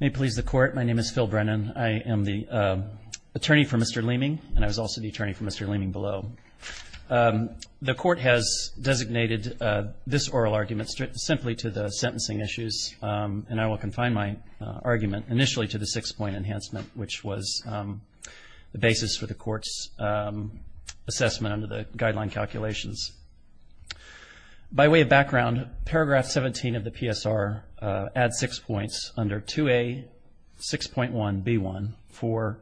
May it please the Court, my name is Phil Brennan. I am the attorney for Mr. Leaming, and I was also the attorney for Mr. Leaming below. The Court has designated this oral argument simply to the sentencing issues, and I will confine my argument initially to the six-point enhancement, which was the basis for the Court's assessment under the guideline calculations. By way of background, paragraph 17 of the PSR adds six points under 2A6.1b1 for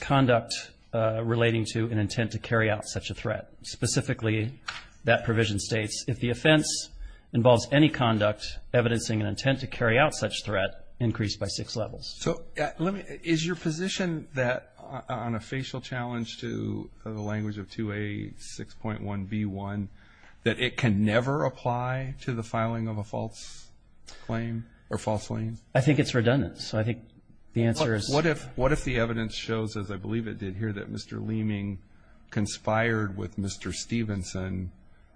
conduct relating to an intent to carry out such a threat. Specifically, that provision states, if the offense involves any conduct evidencing an intent to carry out such threat, increase by six levels. So, is your position that on a facial challenge to the language of 2A6.1b1, that it can never apply to the filing of a false claim or false claim? I think it's redundant, so I think the answer is... What if the evidence shows, as I believe it did here, that Mr. Leaming conspired with Mr. Stevenson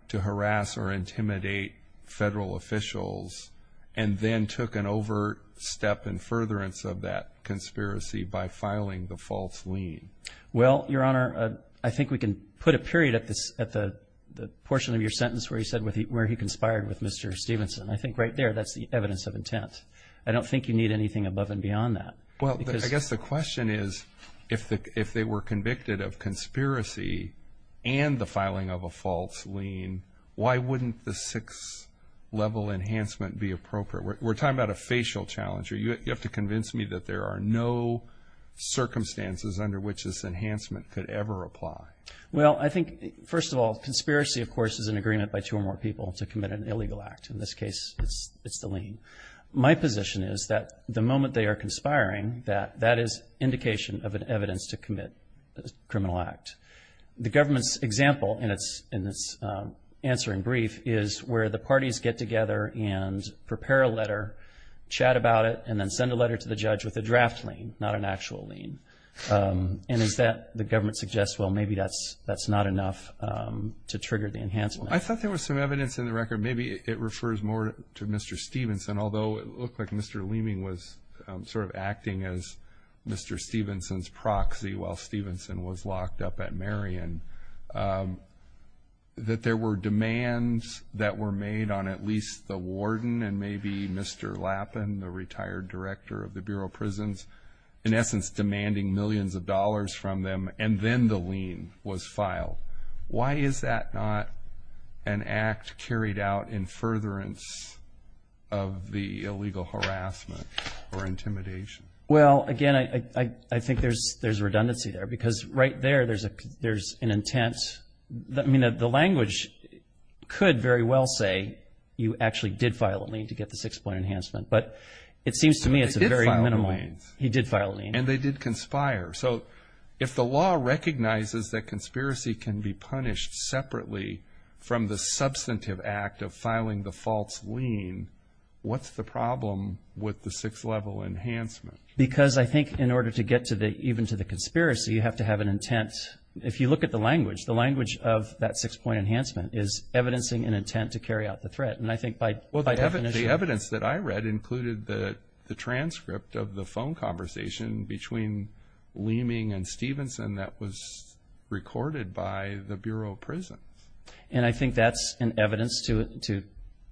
to harass or intimidate federal officials and then took an overt step in furtherance of that conspiracy by filing the false lien? Well, Your Honor, I think we can put a period at the portion of your sentence where you said where he conspired with Mr. Stevenson. I think right there, that's the evidence of intent. I don't think you need anything above and beyond that. Well, I guess the question is, if they were convicted of conspiracy and the filing of a false lien, why wouldn't the six-level enhancement be appropriate? We're talking about a facial challenge. You have to convince me that there are no circumstances under which this enhancement could ever apply. Well, I think, first of all, conspiracy, of course, is an agreement by two or more people to commit an illegal act. In this case, it's the lien. My position is that the moment they are conspiring, that that is indication of an evidence to commit a criminal act. The government's example in its answering brief is where the parties get together and prepare a letter, chat about it, and then send a letter to the judge with a draft lien, not an actual lien. And is that, the government suggests, well, maybe that's not enough to trigger the enhancement. I thought there was some evidence in the record. Maybe it refers more to Mr. Stevenson, although it looked like Mr. Leeming was sort of acting as Mr. Stevenson's proxy while Stevenson was locked up at Marion, that there were demands that were made on at least the warden and maybe Mr. Lappin, the retired director of the Bureau of Prisons, in essence demanding millions of dollars from them, and then the lien was filed. Why is that not an act carried out in furtherance of the illegal harassment or intimidation? Well, again, I think there's redundancy there because right there, there's an intent. I mean, the language could very well say you actually did file a lien to get the six-point enhancement, but it seems to me it's a very minimal. He did file a lien. He did file a lien. And they did conspire. So if the law recognizes that conspiracy can be punished separately from the substantive act of filing the false lien, what's the problem with the six-level enhancement? Because I think in order to get even to the conspiracy, you have to have an intent. If you look at the language, the language of that six-point enhancement is evidencing an intent to carry out the threat. The evidence that I read included the transcript of the phone conversation between Leeming and Stevenson that was recorded by the Bureau of Prisons. And I think that's an evidence to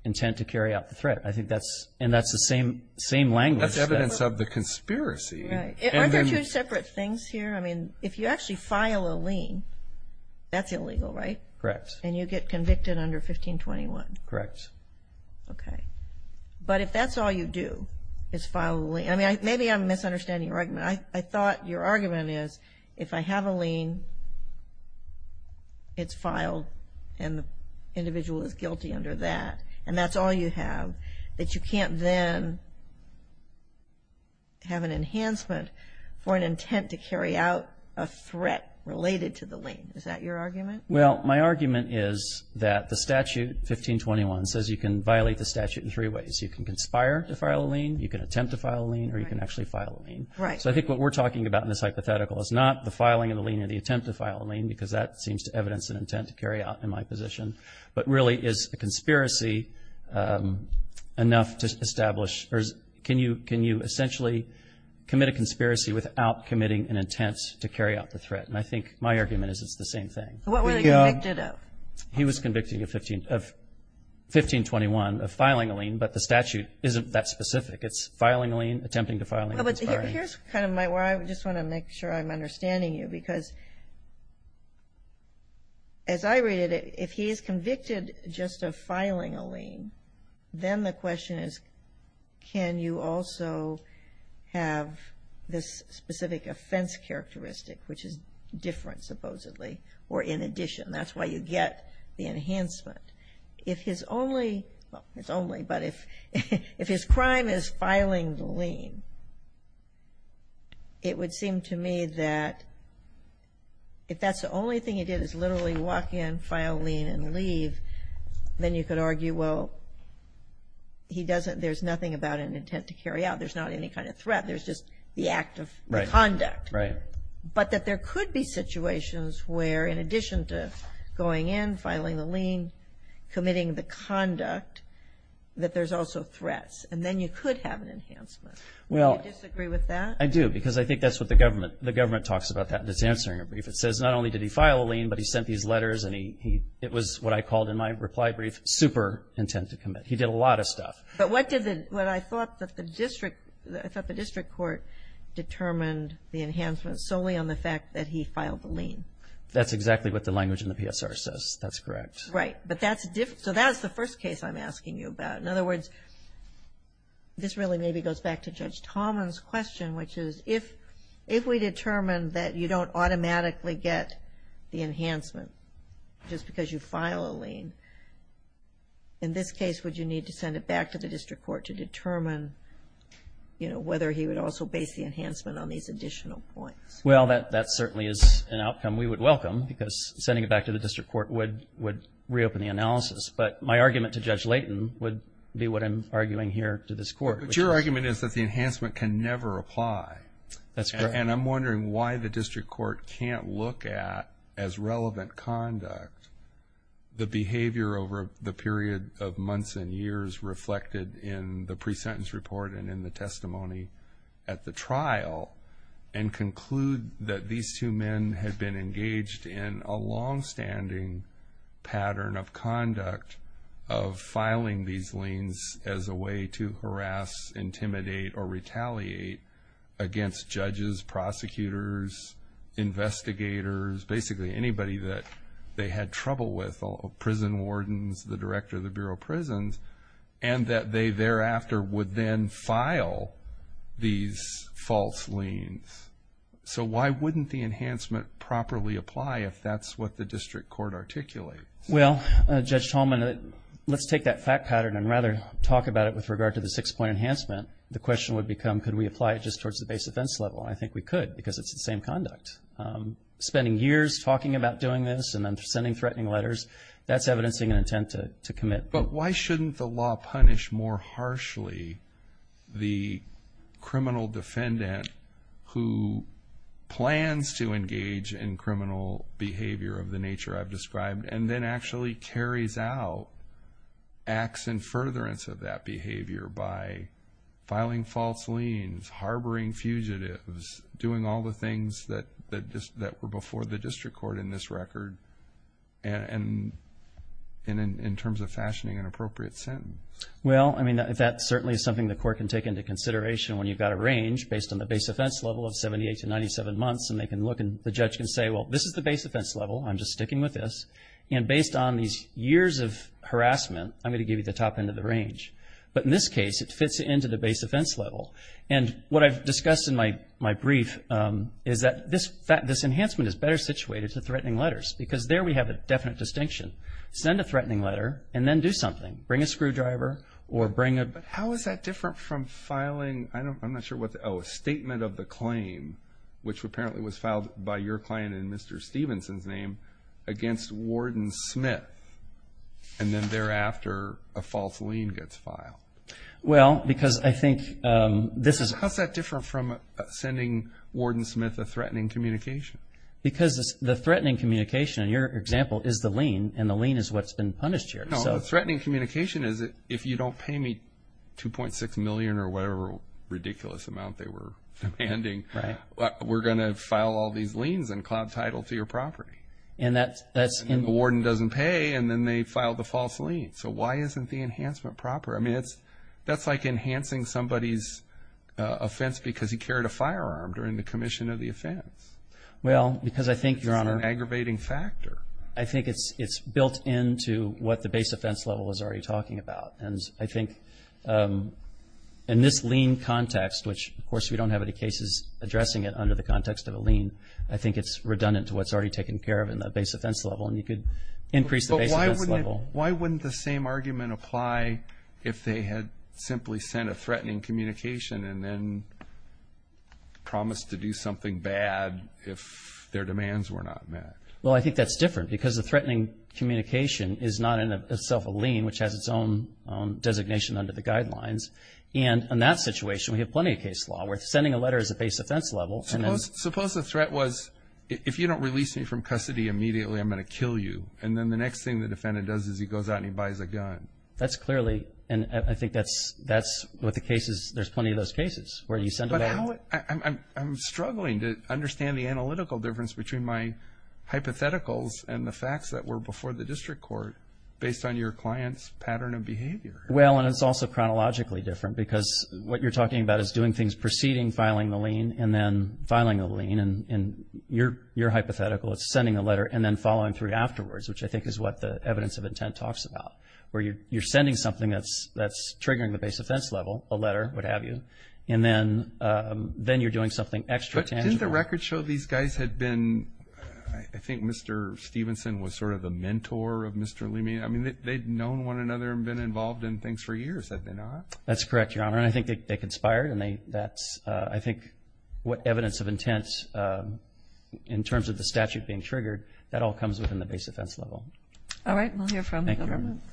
intent to carry out the threat. I think that's the same language. That's evidence of the conspiracy. Are there two separate things here? I mean, if you actually file a lien, that's illegal, right? Correct. And you get convicted under 1521. Correct. Okay. But if that's all you do is file a lien, I mean, maybe I'm misunderstanding your argument. I thought your argument is if I have a lien, it's filed and the individual is guilty under that, and that's all you have, that you can't then have an enhancement for an intent to carry out a threat related to the lien. Is that your argument? Well, my argument is that the statute, 1521, says you can violate the statute in three ways. You can conspire to file a lien, you can attempt to file a lien, or you can actually file a lien. Right. So I think what we're talking about in this hypothetical is not the filing of the lien or the attempt to file a lien because that seems to evidence an intent to carry out in my position, but really is a conspiracy enough to establish, or can you essentially commit a conspiracy without committing an intent to carry out the threat? And I think my argument is it's the same thing. What were they convicted of? He was convicted in 1521 of filing a lien, but the statute isn't that specific. It's filing a lien, attempting to file a lien. Here's kind of where I just want to make sure I'm understanding you because, as I read it, if he is convicted just of filing a lien, then the question is can you also have this specific offense characteristic, which is different, supposedly, or in addition. That's why you get the enhancement. If his only – well, it's only, but if his crime is filing the lien, it would seem to me that if that's the only thing he did is literally walk in, file a lien, and leave, then you could argue, well, he doesn't – there's nothing about an intent to carry out. There's not any kind of threat. There's just the act of conduct. Right. But that there could be situations where, in addition to going in, filing the lien, committing the conduct, that there's also threats, and then you could have an enhancement. Well – Do you disagree with that? I do because I think that's what the government – the government talks about that in its answering brief. It says not only did he file a lien, but he sent these letters, and he – it was what I called in my reply brief super intent to commit. He did a lot of stuff. But what did the – what I thought that the district – I thought the district court determined the enhancement solely on the fact that he filed the lien. That's exactly what the language in the PSR says. That's correct. Right. But that's – so that's the first case I'm asking you about. In other words, this really maybe goes back to Judge Tomlin's question, which is, if we determine that you don't automatically get the enhancement just because you file a lien, in this case, would you need to send it back to the district court to determine, you know, whether he would also base the enhancement on these additional points? Well, that – that certainly is an outcome we would welcome because sending it back to the district court would – would reopen the analysis. But my argument to Judge Layton would be what I'm arguing here to this court. But your argument is that the enhancement can never apply. That's correct. And I'm wondering why the district court can't look at, as relevant conduct, the behavior over the period of months and years reflected in the pre-sentence report and in the testimony at the trial and conclude that these two men had been engaged in a longstanding pattern of conduct of filing these liens as a way to harass, intimidate, or retaliate against judges, prosecutors, investigators, basically anybody that they had trouble with, prison wardens, the director of the Bureau of Prisons, and that they thereafter would then file these false liens. So why wouldn't the enhancement properly apply if that's what the district court articulates? Well, Judge Tomlin, let's take that fact pattern and rather talk about it with regard to the six-point enhancement. The question would become could we apply it just towards the base offense level, and I think we could because it's the same conduct. Spending years talking about doing this and then sending threatening letters, that's evidencing an intent to commit. But why shouldn't the law punish more harshly the criminal defendant who plans to engage in criminal behavior of the nature I've described and then actually carries out acts in furtherance of that behavior by filing false liens, harboring fugitives, doing all the things that were before the district court in this record and in terms of fashioning an appropriate sentence? Well, I mean, that certainly is something the court can take into consideration when you've got a range based on the base offense level of 78 to 97 months, and they can look and the judge can say, well, this is the base offense level. I'm just sticking with this. And based on these years of harassment, I'm going to give you the top end of the range. But in this case, it fits into the base offense level. And what I've discussed in my brief is that this enhancement is better situated to threatening letters because there we have a definite distinction. Send a threatening letter and then do something. Bring a screwdriver or bring a – But how is that different from filing – I'm not sure what the – oh, a statement of the claim, which apparently was filed by your client in Mr. Stevenson's name against Warden Smith and then thereafter a false lien gets filed. Well, because I think this is – How is that different from sending Warden Smith a threatening communication? Because the threatening communication in your example is the lien, and the lien is what's been punished here. No, the threatening communication is if you don't pay me $2.6 million or whatever ridiculous amount they were demanding, we're going to file all these liens and cloud title to your property. And that's – And the warden doesn't pay, and then they file the false lien. So why isn't the enhancement proper? I mean, that's like enhancing somebody's offense because he carried a firearm during the commission of the offense. Well, because I think – You're on an aggravating factor. I think it's built into what the base offense level is already talking about. And I think in this lien context, which of course we don't have any cases addressing it under the context of a lien, I think it's redundant to what's already taken care of in the base offense level, and you could increase the base offense level. But why wouldn't the same argument apply if they had simply sent a threatening communication and then promised to do something bad if their demands were not met? Well, I think that's different because the threatening communication is not in itself a lien, which has its own designation under the guidelines. And in that situation, we have plenty of case law. We're sending a letter as a base offense level. Suppose the threat was, if you don't release me from custody immediately, I'm going to kill you. And then the next thing the defendant does is he goes out and he buys a gun. That's clearly – and I think that's what the case is. There's plenty of those cases where you send a letter. But how – I'm struggling to understand the analytical difference between my hypotheticals and the facts that were before the district court based on your client's pattern of behavior. Well, and it's also chronologically different because what you're talking about is doing things preceding filing the lien and then filing the lien. And your hypothetical is sending a letter and then following through afterwards, which I think is what the evidence of intent talks about, where you're sending something that's triggering the base offense level, a letter, what have you, and then you're doing something extra tangible. Didn't the record show these guys had been – I think Mr. Stevenson was sort of the mentor of Mr. Leamy. I mean, they'd known one another and been involved in things for years, had they not? That's correct, Your Honor, and I think they conspired. And that's, I think, what evidence of intent in terms of the statute being triggered, that all comes within the base offense level. All right. We'll hear from the government. Thank you.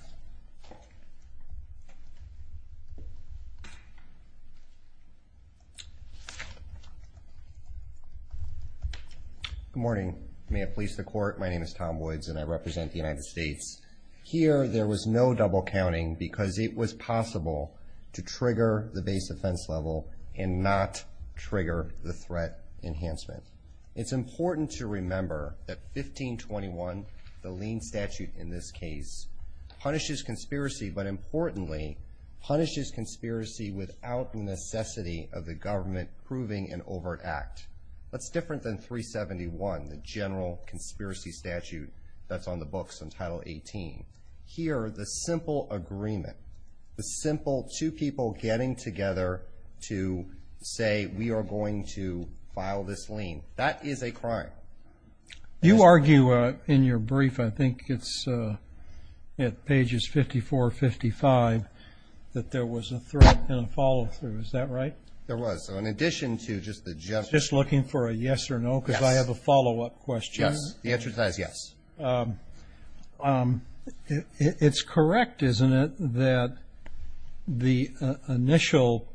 Good morning. May it please the Court, my name is Tom Woods and I represent the United States. Here there was no double counting because it was possible to trigger the base offense level and not trigger the threat enhancement. It's important to remember that 1521, the lien statute in this case, punishes conspiracy but, importantly, punishes conspiracy without the necessity of the government proving an overt act. That's different than 371, the general conspiracy statute that's on the books in Title 18. Here, the simple agreement, the simple two people getting together to say, we are going to file this lien, that is a crime. You argue in your brief, I think it's at pages 54, 55, that there was a threat and a follow through. Is that right? There was. So in addition to just the general. Just looking for a yes or no because I have a follow up question. Yes. The answer to that is yes. It's correct, isn't it, that the initial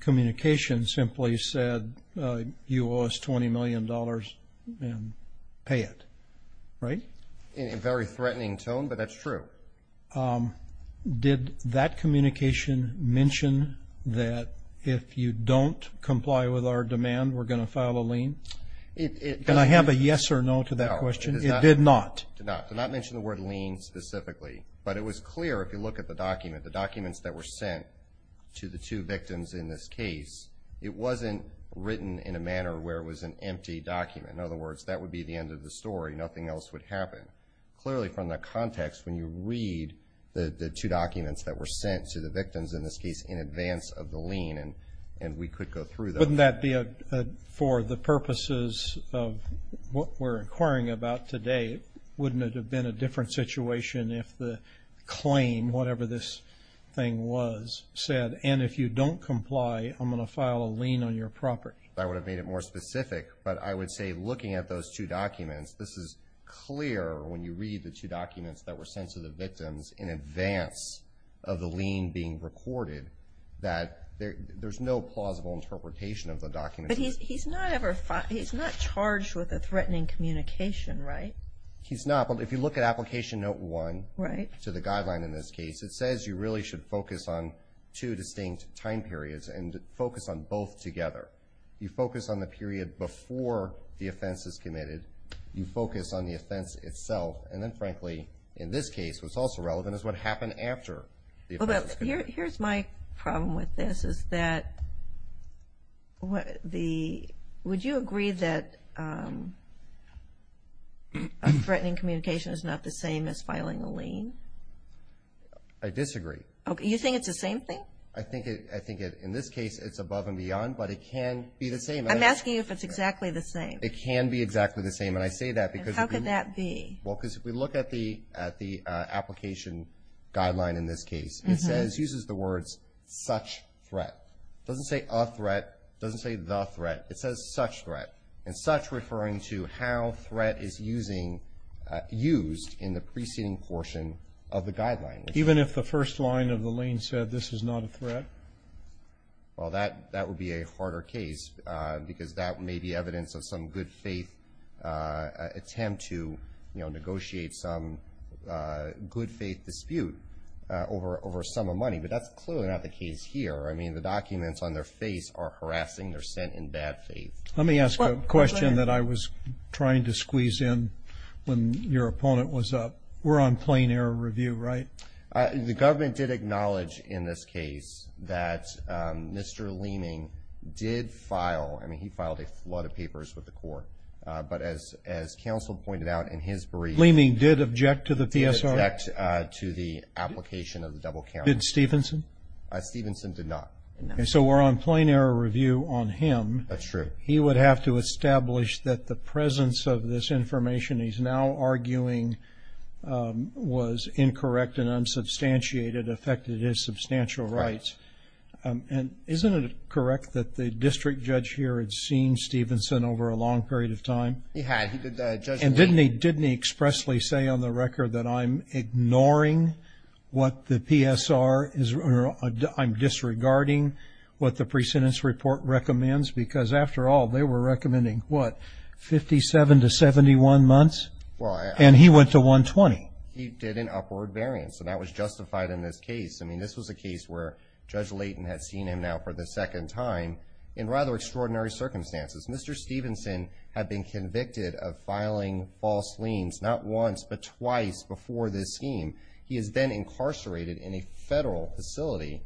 communication simply said you owe us $20 million and pay it, right? In a very threatening tone, but that's true. Did that communication mention that if you don't comply with our demand, we're going to file a lien? And I have a yes or no to that question. It did not. It did not. It did not mention the word lien specifically. But it was clear, if you look at the document, the documents that were sent to the two victims in this case, it wasn't written in a manner where it was an empty document. In other words, that would be the end of the story. Nothing else would happen. Clearly, from that context, when you read the two documents that were sent to the victims, in this case in advance of the lien, and we could go through those. Wouldn't that be, for the purposes of what we're inquiring about today, wouldn't it have been a different situation if the claim, whatever this thing was, said, and if you don't comply, I'm going to file a lien on your property? I would have made it more specific, but I would say, looking at those two documents, this is clear when you read the two documents that were sent to the victims in advance of the lien being recorded, that there's no plausible interpretation of the document. But he's not charged with a threatening communication, right? He's not. But if you look at Application Note 1 to the guideline in this case, it says you really should focus on two distinct time periods and focus on both together. You focus on the period before the offense is committed. You focus on the offense itself. And then, frankly, in this case, what's also relevant is what happened after the offense was committed. Well, here's my problem with this, is that would you agree that a threatening communication is not the same as filing a lien? I disagree. You think it's the same thing? I think in this case it's above and beyond, but it can be the same. I'm asking you if it's exactly the same. It can be exactly the same, and I say that because if you look at the application guideline in this case, it uses the words such threat. It doesn't say a threat. It doesn't say the threat. It says such threat, and such referring to how threat is used in the preceding portion of the guideline. Even if the first line of the lien said this is not a threat? Well, that would be a harder case because that may be evidence of some good faith attempt to, you know, for a sum of money, but that's clearly not the case here. I mean, the documents on their face are harassing. They're sent in bad faith. Let me ask a question that I was trying to squeeze in when your opponent was up. We're on plain error review, right? The government did acknowledge in this case that Mr. Leeming did file. I mean, he filed a flood of papers with the court, but as counsel pointed out in his brief. Leeming did object to the PSR? Object to the application of the double count. Did Stevenson? Stevenson did not. So we're on plain error review on him. That's true. He would have to establish that the presence of this information he's now arguing was incorrect and unsubstantiated affected his substantial rights. And isn't it correct that the district judge here had seen Stevenson over a long period of time? He had. And didn't he expressly say on the record that I'm ignoring what the PSR is, or I'm disregarding what the pre-sentence report recommends? Because after all, they were recommending, what, 57 to 71 months? And he went to 120. He did an upward variance, and that was justified in this case. I mean, this was a case where Judge Layton had seen him now for the second time in rather extraordinary circumstances. Mr. Stevenson had been convicted of filing false liens not once but twice before this scheme. He is then incarcerated in a federal facility,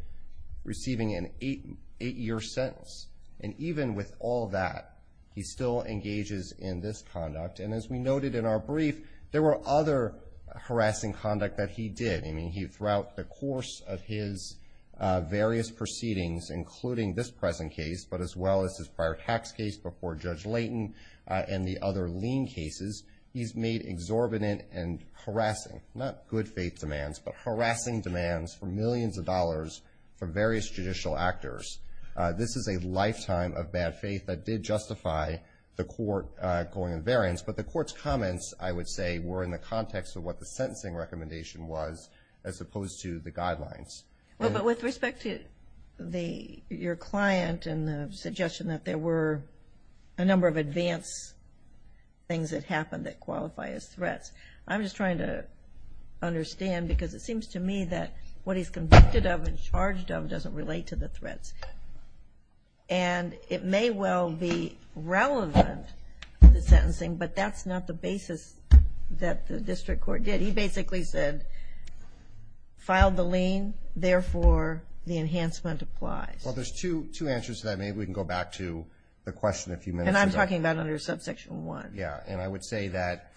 receiving an eight-year sentence. And even with all that, he still engages in this conduct. And as we noted in our brief, there were other harassing conduct that he did. I mean, throughout the course of his various proceedings, including this present case, but as well as his prior tax case before Judge Layton and the other lien cases, he's made exorbitant and harassing, not good faith demands, but harassing demands for millions of dollars from various judicial actors. This is a lifetime of bad faith that did justify the court going on variance. But the court's comments, I would say, were in the context of what the sentencing recommendation was as opposed to the guidelines. Well, but with respect to your client and the suggestion that there were a number of advanced things that happened that qualify as threats, I'm just trying to understand because it seems to me that what he's convicted of and charged of doesn't relate to the threats. And it may well be relevant, the sentencing, but that's not the basis that the district court did. He basically said, filed the lien, therefore the enhancement applies. Well, there's two answers to that. Maybe we can go back to the question a few minutes ago. And I'm talking about under Subsection 1. Yeah, and I would say that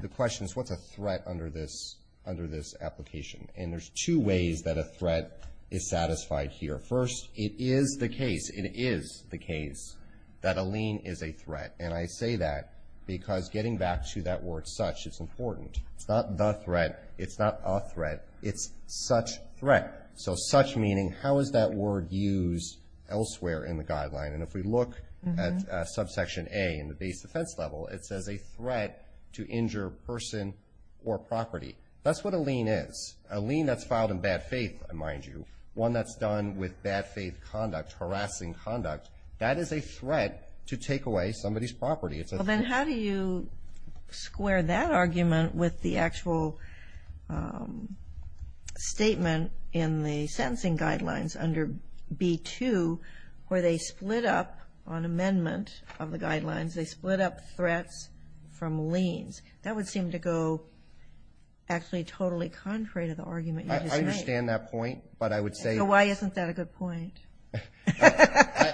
the question is, what's a threat under this application? And there's two ways that a threat is satisfied here. First, it is the case, it is the case, that a lien is a threat. And I say that because getting back to that word such is important. It's not the threat, it's not a threat, it's such threat. So such meaning, how is that word used elsewhere in the guideline? And if we look at Subsection A in the base defense level, it says a threat to injure person or property. That's what a lien is. A lien that's filed in bad faith, mind you, one that's done with bad faith conduct, harassing conduct, that is a threat to take away somebody's property. Well, then how do you square that argument with the actual statement in the sentencing guidelines under B2 where they split up on amendment of the guidelines, they split up threats from liens? That would seem to go actually totally contrary to the argument you just made. I understand that point, but I would say – So why isn't that a good point?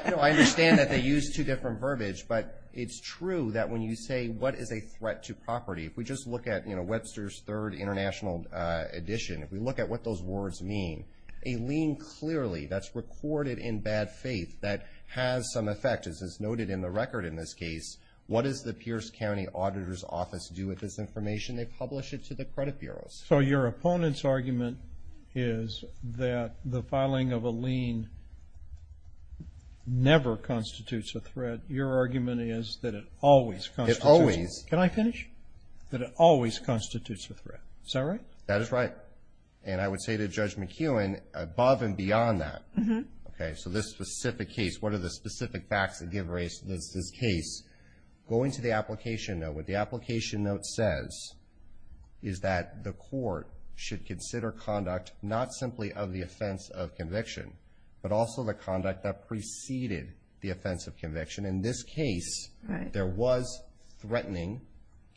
No, I understand that they use two different verbiage, but it's true that when you say what is a threat to property, if we just look at Webster's Third International Edition, if we look at what those words mean, a lien clearly that's recorded in bad faith that has some effect, as is noted in the record in this case, what does the Pierce County Auditor's Office do with this information? They publish it to the credit bureaus. So your opponent's argument is that the filing of a lien never constitutes a threat. Your argument is that it always constitutes a threat. It always. Can I finish? That it always constitutes a threat. Is that right? That is right. And I would say to Judge McKeown, above and beyond that, okay, so this specific case, what are the specific facts that give rise to this case, going to the application note, what the application note says is that the court should consider conduct not simply of the offense of conviction, but also the conduct that preceded the offense of conviction. In this case, there was threatening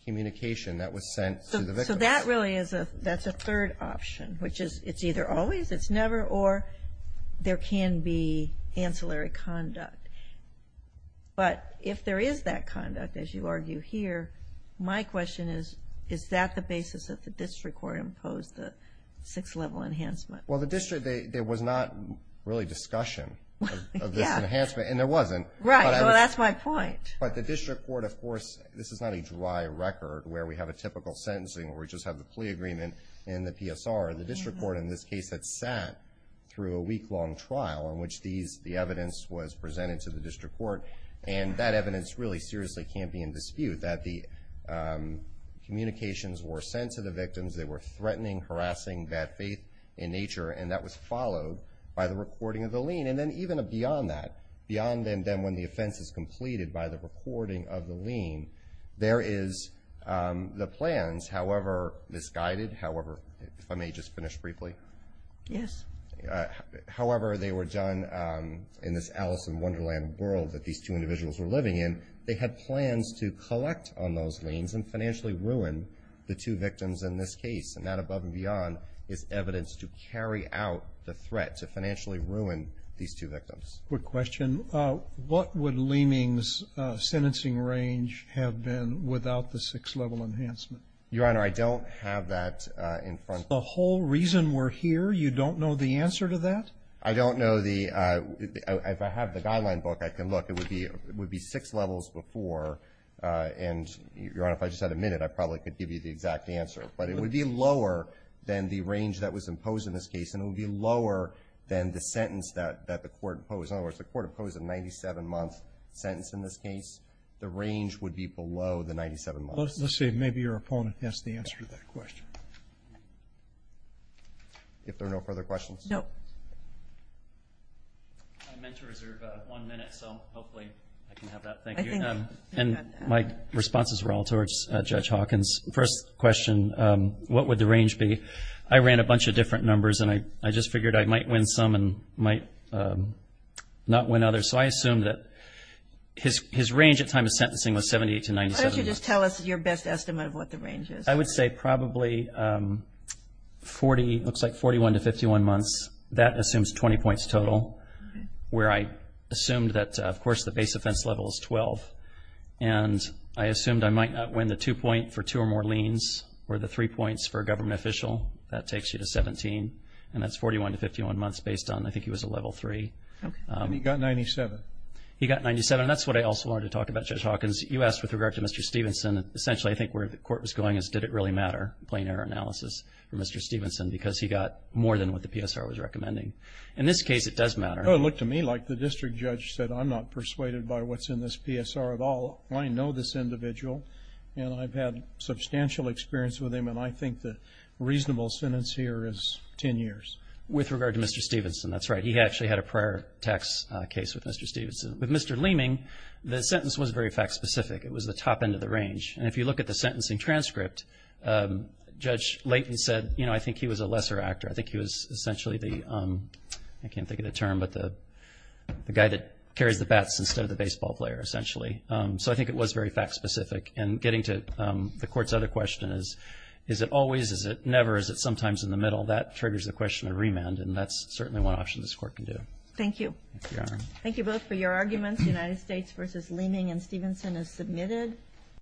communication that was sent to the victim. So that really is a third option, which is it's either always, it's never, or there can be ancillary conduct. But if there is that conduct, as you argue here, my question is, is that the basis that the district court imposed the six-level enhancement? Well, the district, there was not really discussion of this enhancement, and there wasn't. Right. Well, that's my point. But the district court, of course, this is not a dry record where we have a typical sentencing where we just have the plea agreement and the PSR. The district court in this case had sat through a week-long trial in which the evidence was presented to the district court, and that evidence really seriously can't be in dispute, that the communications were sent to the victims. They were threatening, harassing, bad faith in nature, and that was followed by the recording of the lien. And then even beyond that, beyond then when the offense is completed by the recording of the lien, there is the plans, however misguided, however, if I may just finish briefly. Yes. However they were done in this Alice in Wonderland world that these two individuals were living in, they had plans to collect on those liens and financially ruin the two victims in this case, and that above and beyond is evidence to carry out the threat to financially ruin these two victims. Quick question. What would Leeming's sentencing range have been without the six-level enhancement? Your Honor, I don't have that in front of me. The whole reason we're here, you don't know the answer to that? I don't know. If I have the guideline book, I can look. It would be six levels before, and, Your Honor, if I just had a minute, I probably could give you the exact answer. But it would be lower than the range that was imposed in this case, and it would be lower than the sentence that the court imposed. In other words, the court imposed a 97-month sentence in this case. The range would be below the 97 months. Let's see. Maybe your opponent has the answer to that question. If there are no further questions. No. I meant to reserve one minute, so hopefully I can have that. Thank you. And my responses were all towards Judge Hawkins. First question, what would the range be? I ran a bunch of different numbers, and I just figured I might win some and might not win others. So I assumed that his range at time of sentencing was 78 to 97 months. Could you just tell us your best estimate of what the range is? I would say probably 40, looks like 41 to 51 months. That assumes 20 points total, where I assumed that, of course, the base offense level is 12. And I assumed I might not win the two point for two or more liens or the three points for a government official. That takes you to 17. And that's 41 to 51 months based on I think he was a level three. And he got 97. He got 97. And that's what I also wanted to talk about, Judge Hawkins. You asked with regard to Mr. Stevenson. Essentially, I think where the court was going is did it really matter, plain error analysis, for Mr. Stevenson because he got more than what the PSR was recommending. In this case, it does matter. No, it looked to me like the district judge said I'm not persuaded by what's in this PSR at all. I know this individual, and I've had substantial experience with him, and I think the reasonable sentence here is 10 years. With regard to Mr. Stevenson, that's right. He actually had a prior tax case with Mr. Stevenson. With Mr. Leeming, the sentence was very fact-specific. It was the top end of the range. And if you look at the sentencing transcript, Judge Layton said, you know, I think he was a lesser actor. I think he was essentially the, I can't think of the term, but the guy that carries the bats instead of the baseball player, essentially. So I think it was very fact-specific. And getting to the Court's other question, is it always, is it never, is it sometimes in the middle, that triggers the question of remand, and that's certainly one option this Court can do. Thank you. Thank you both for your arguments. United States v. Leeming and Stevenson is submitted.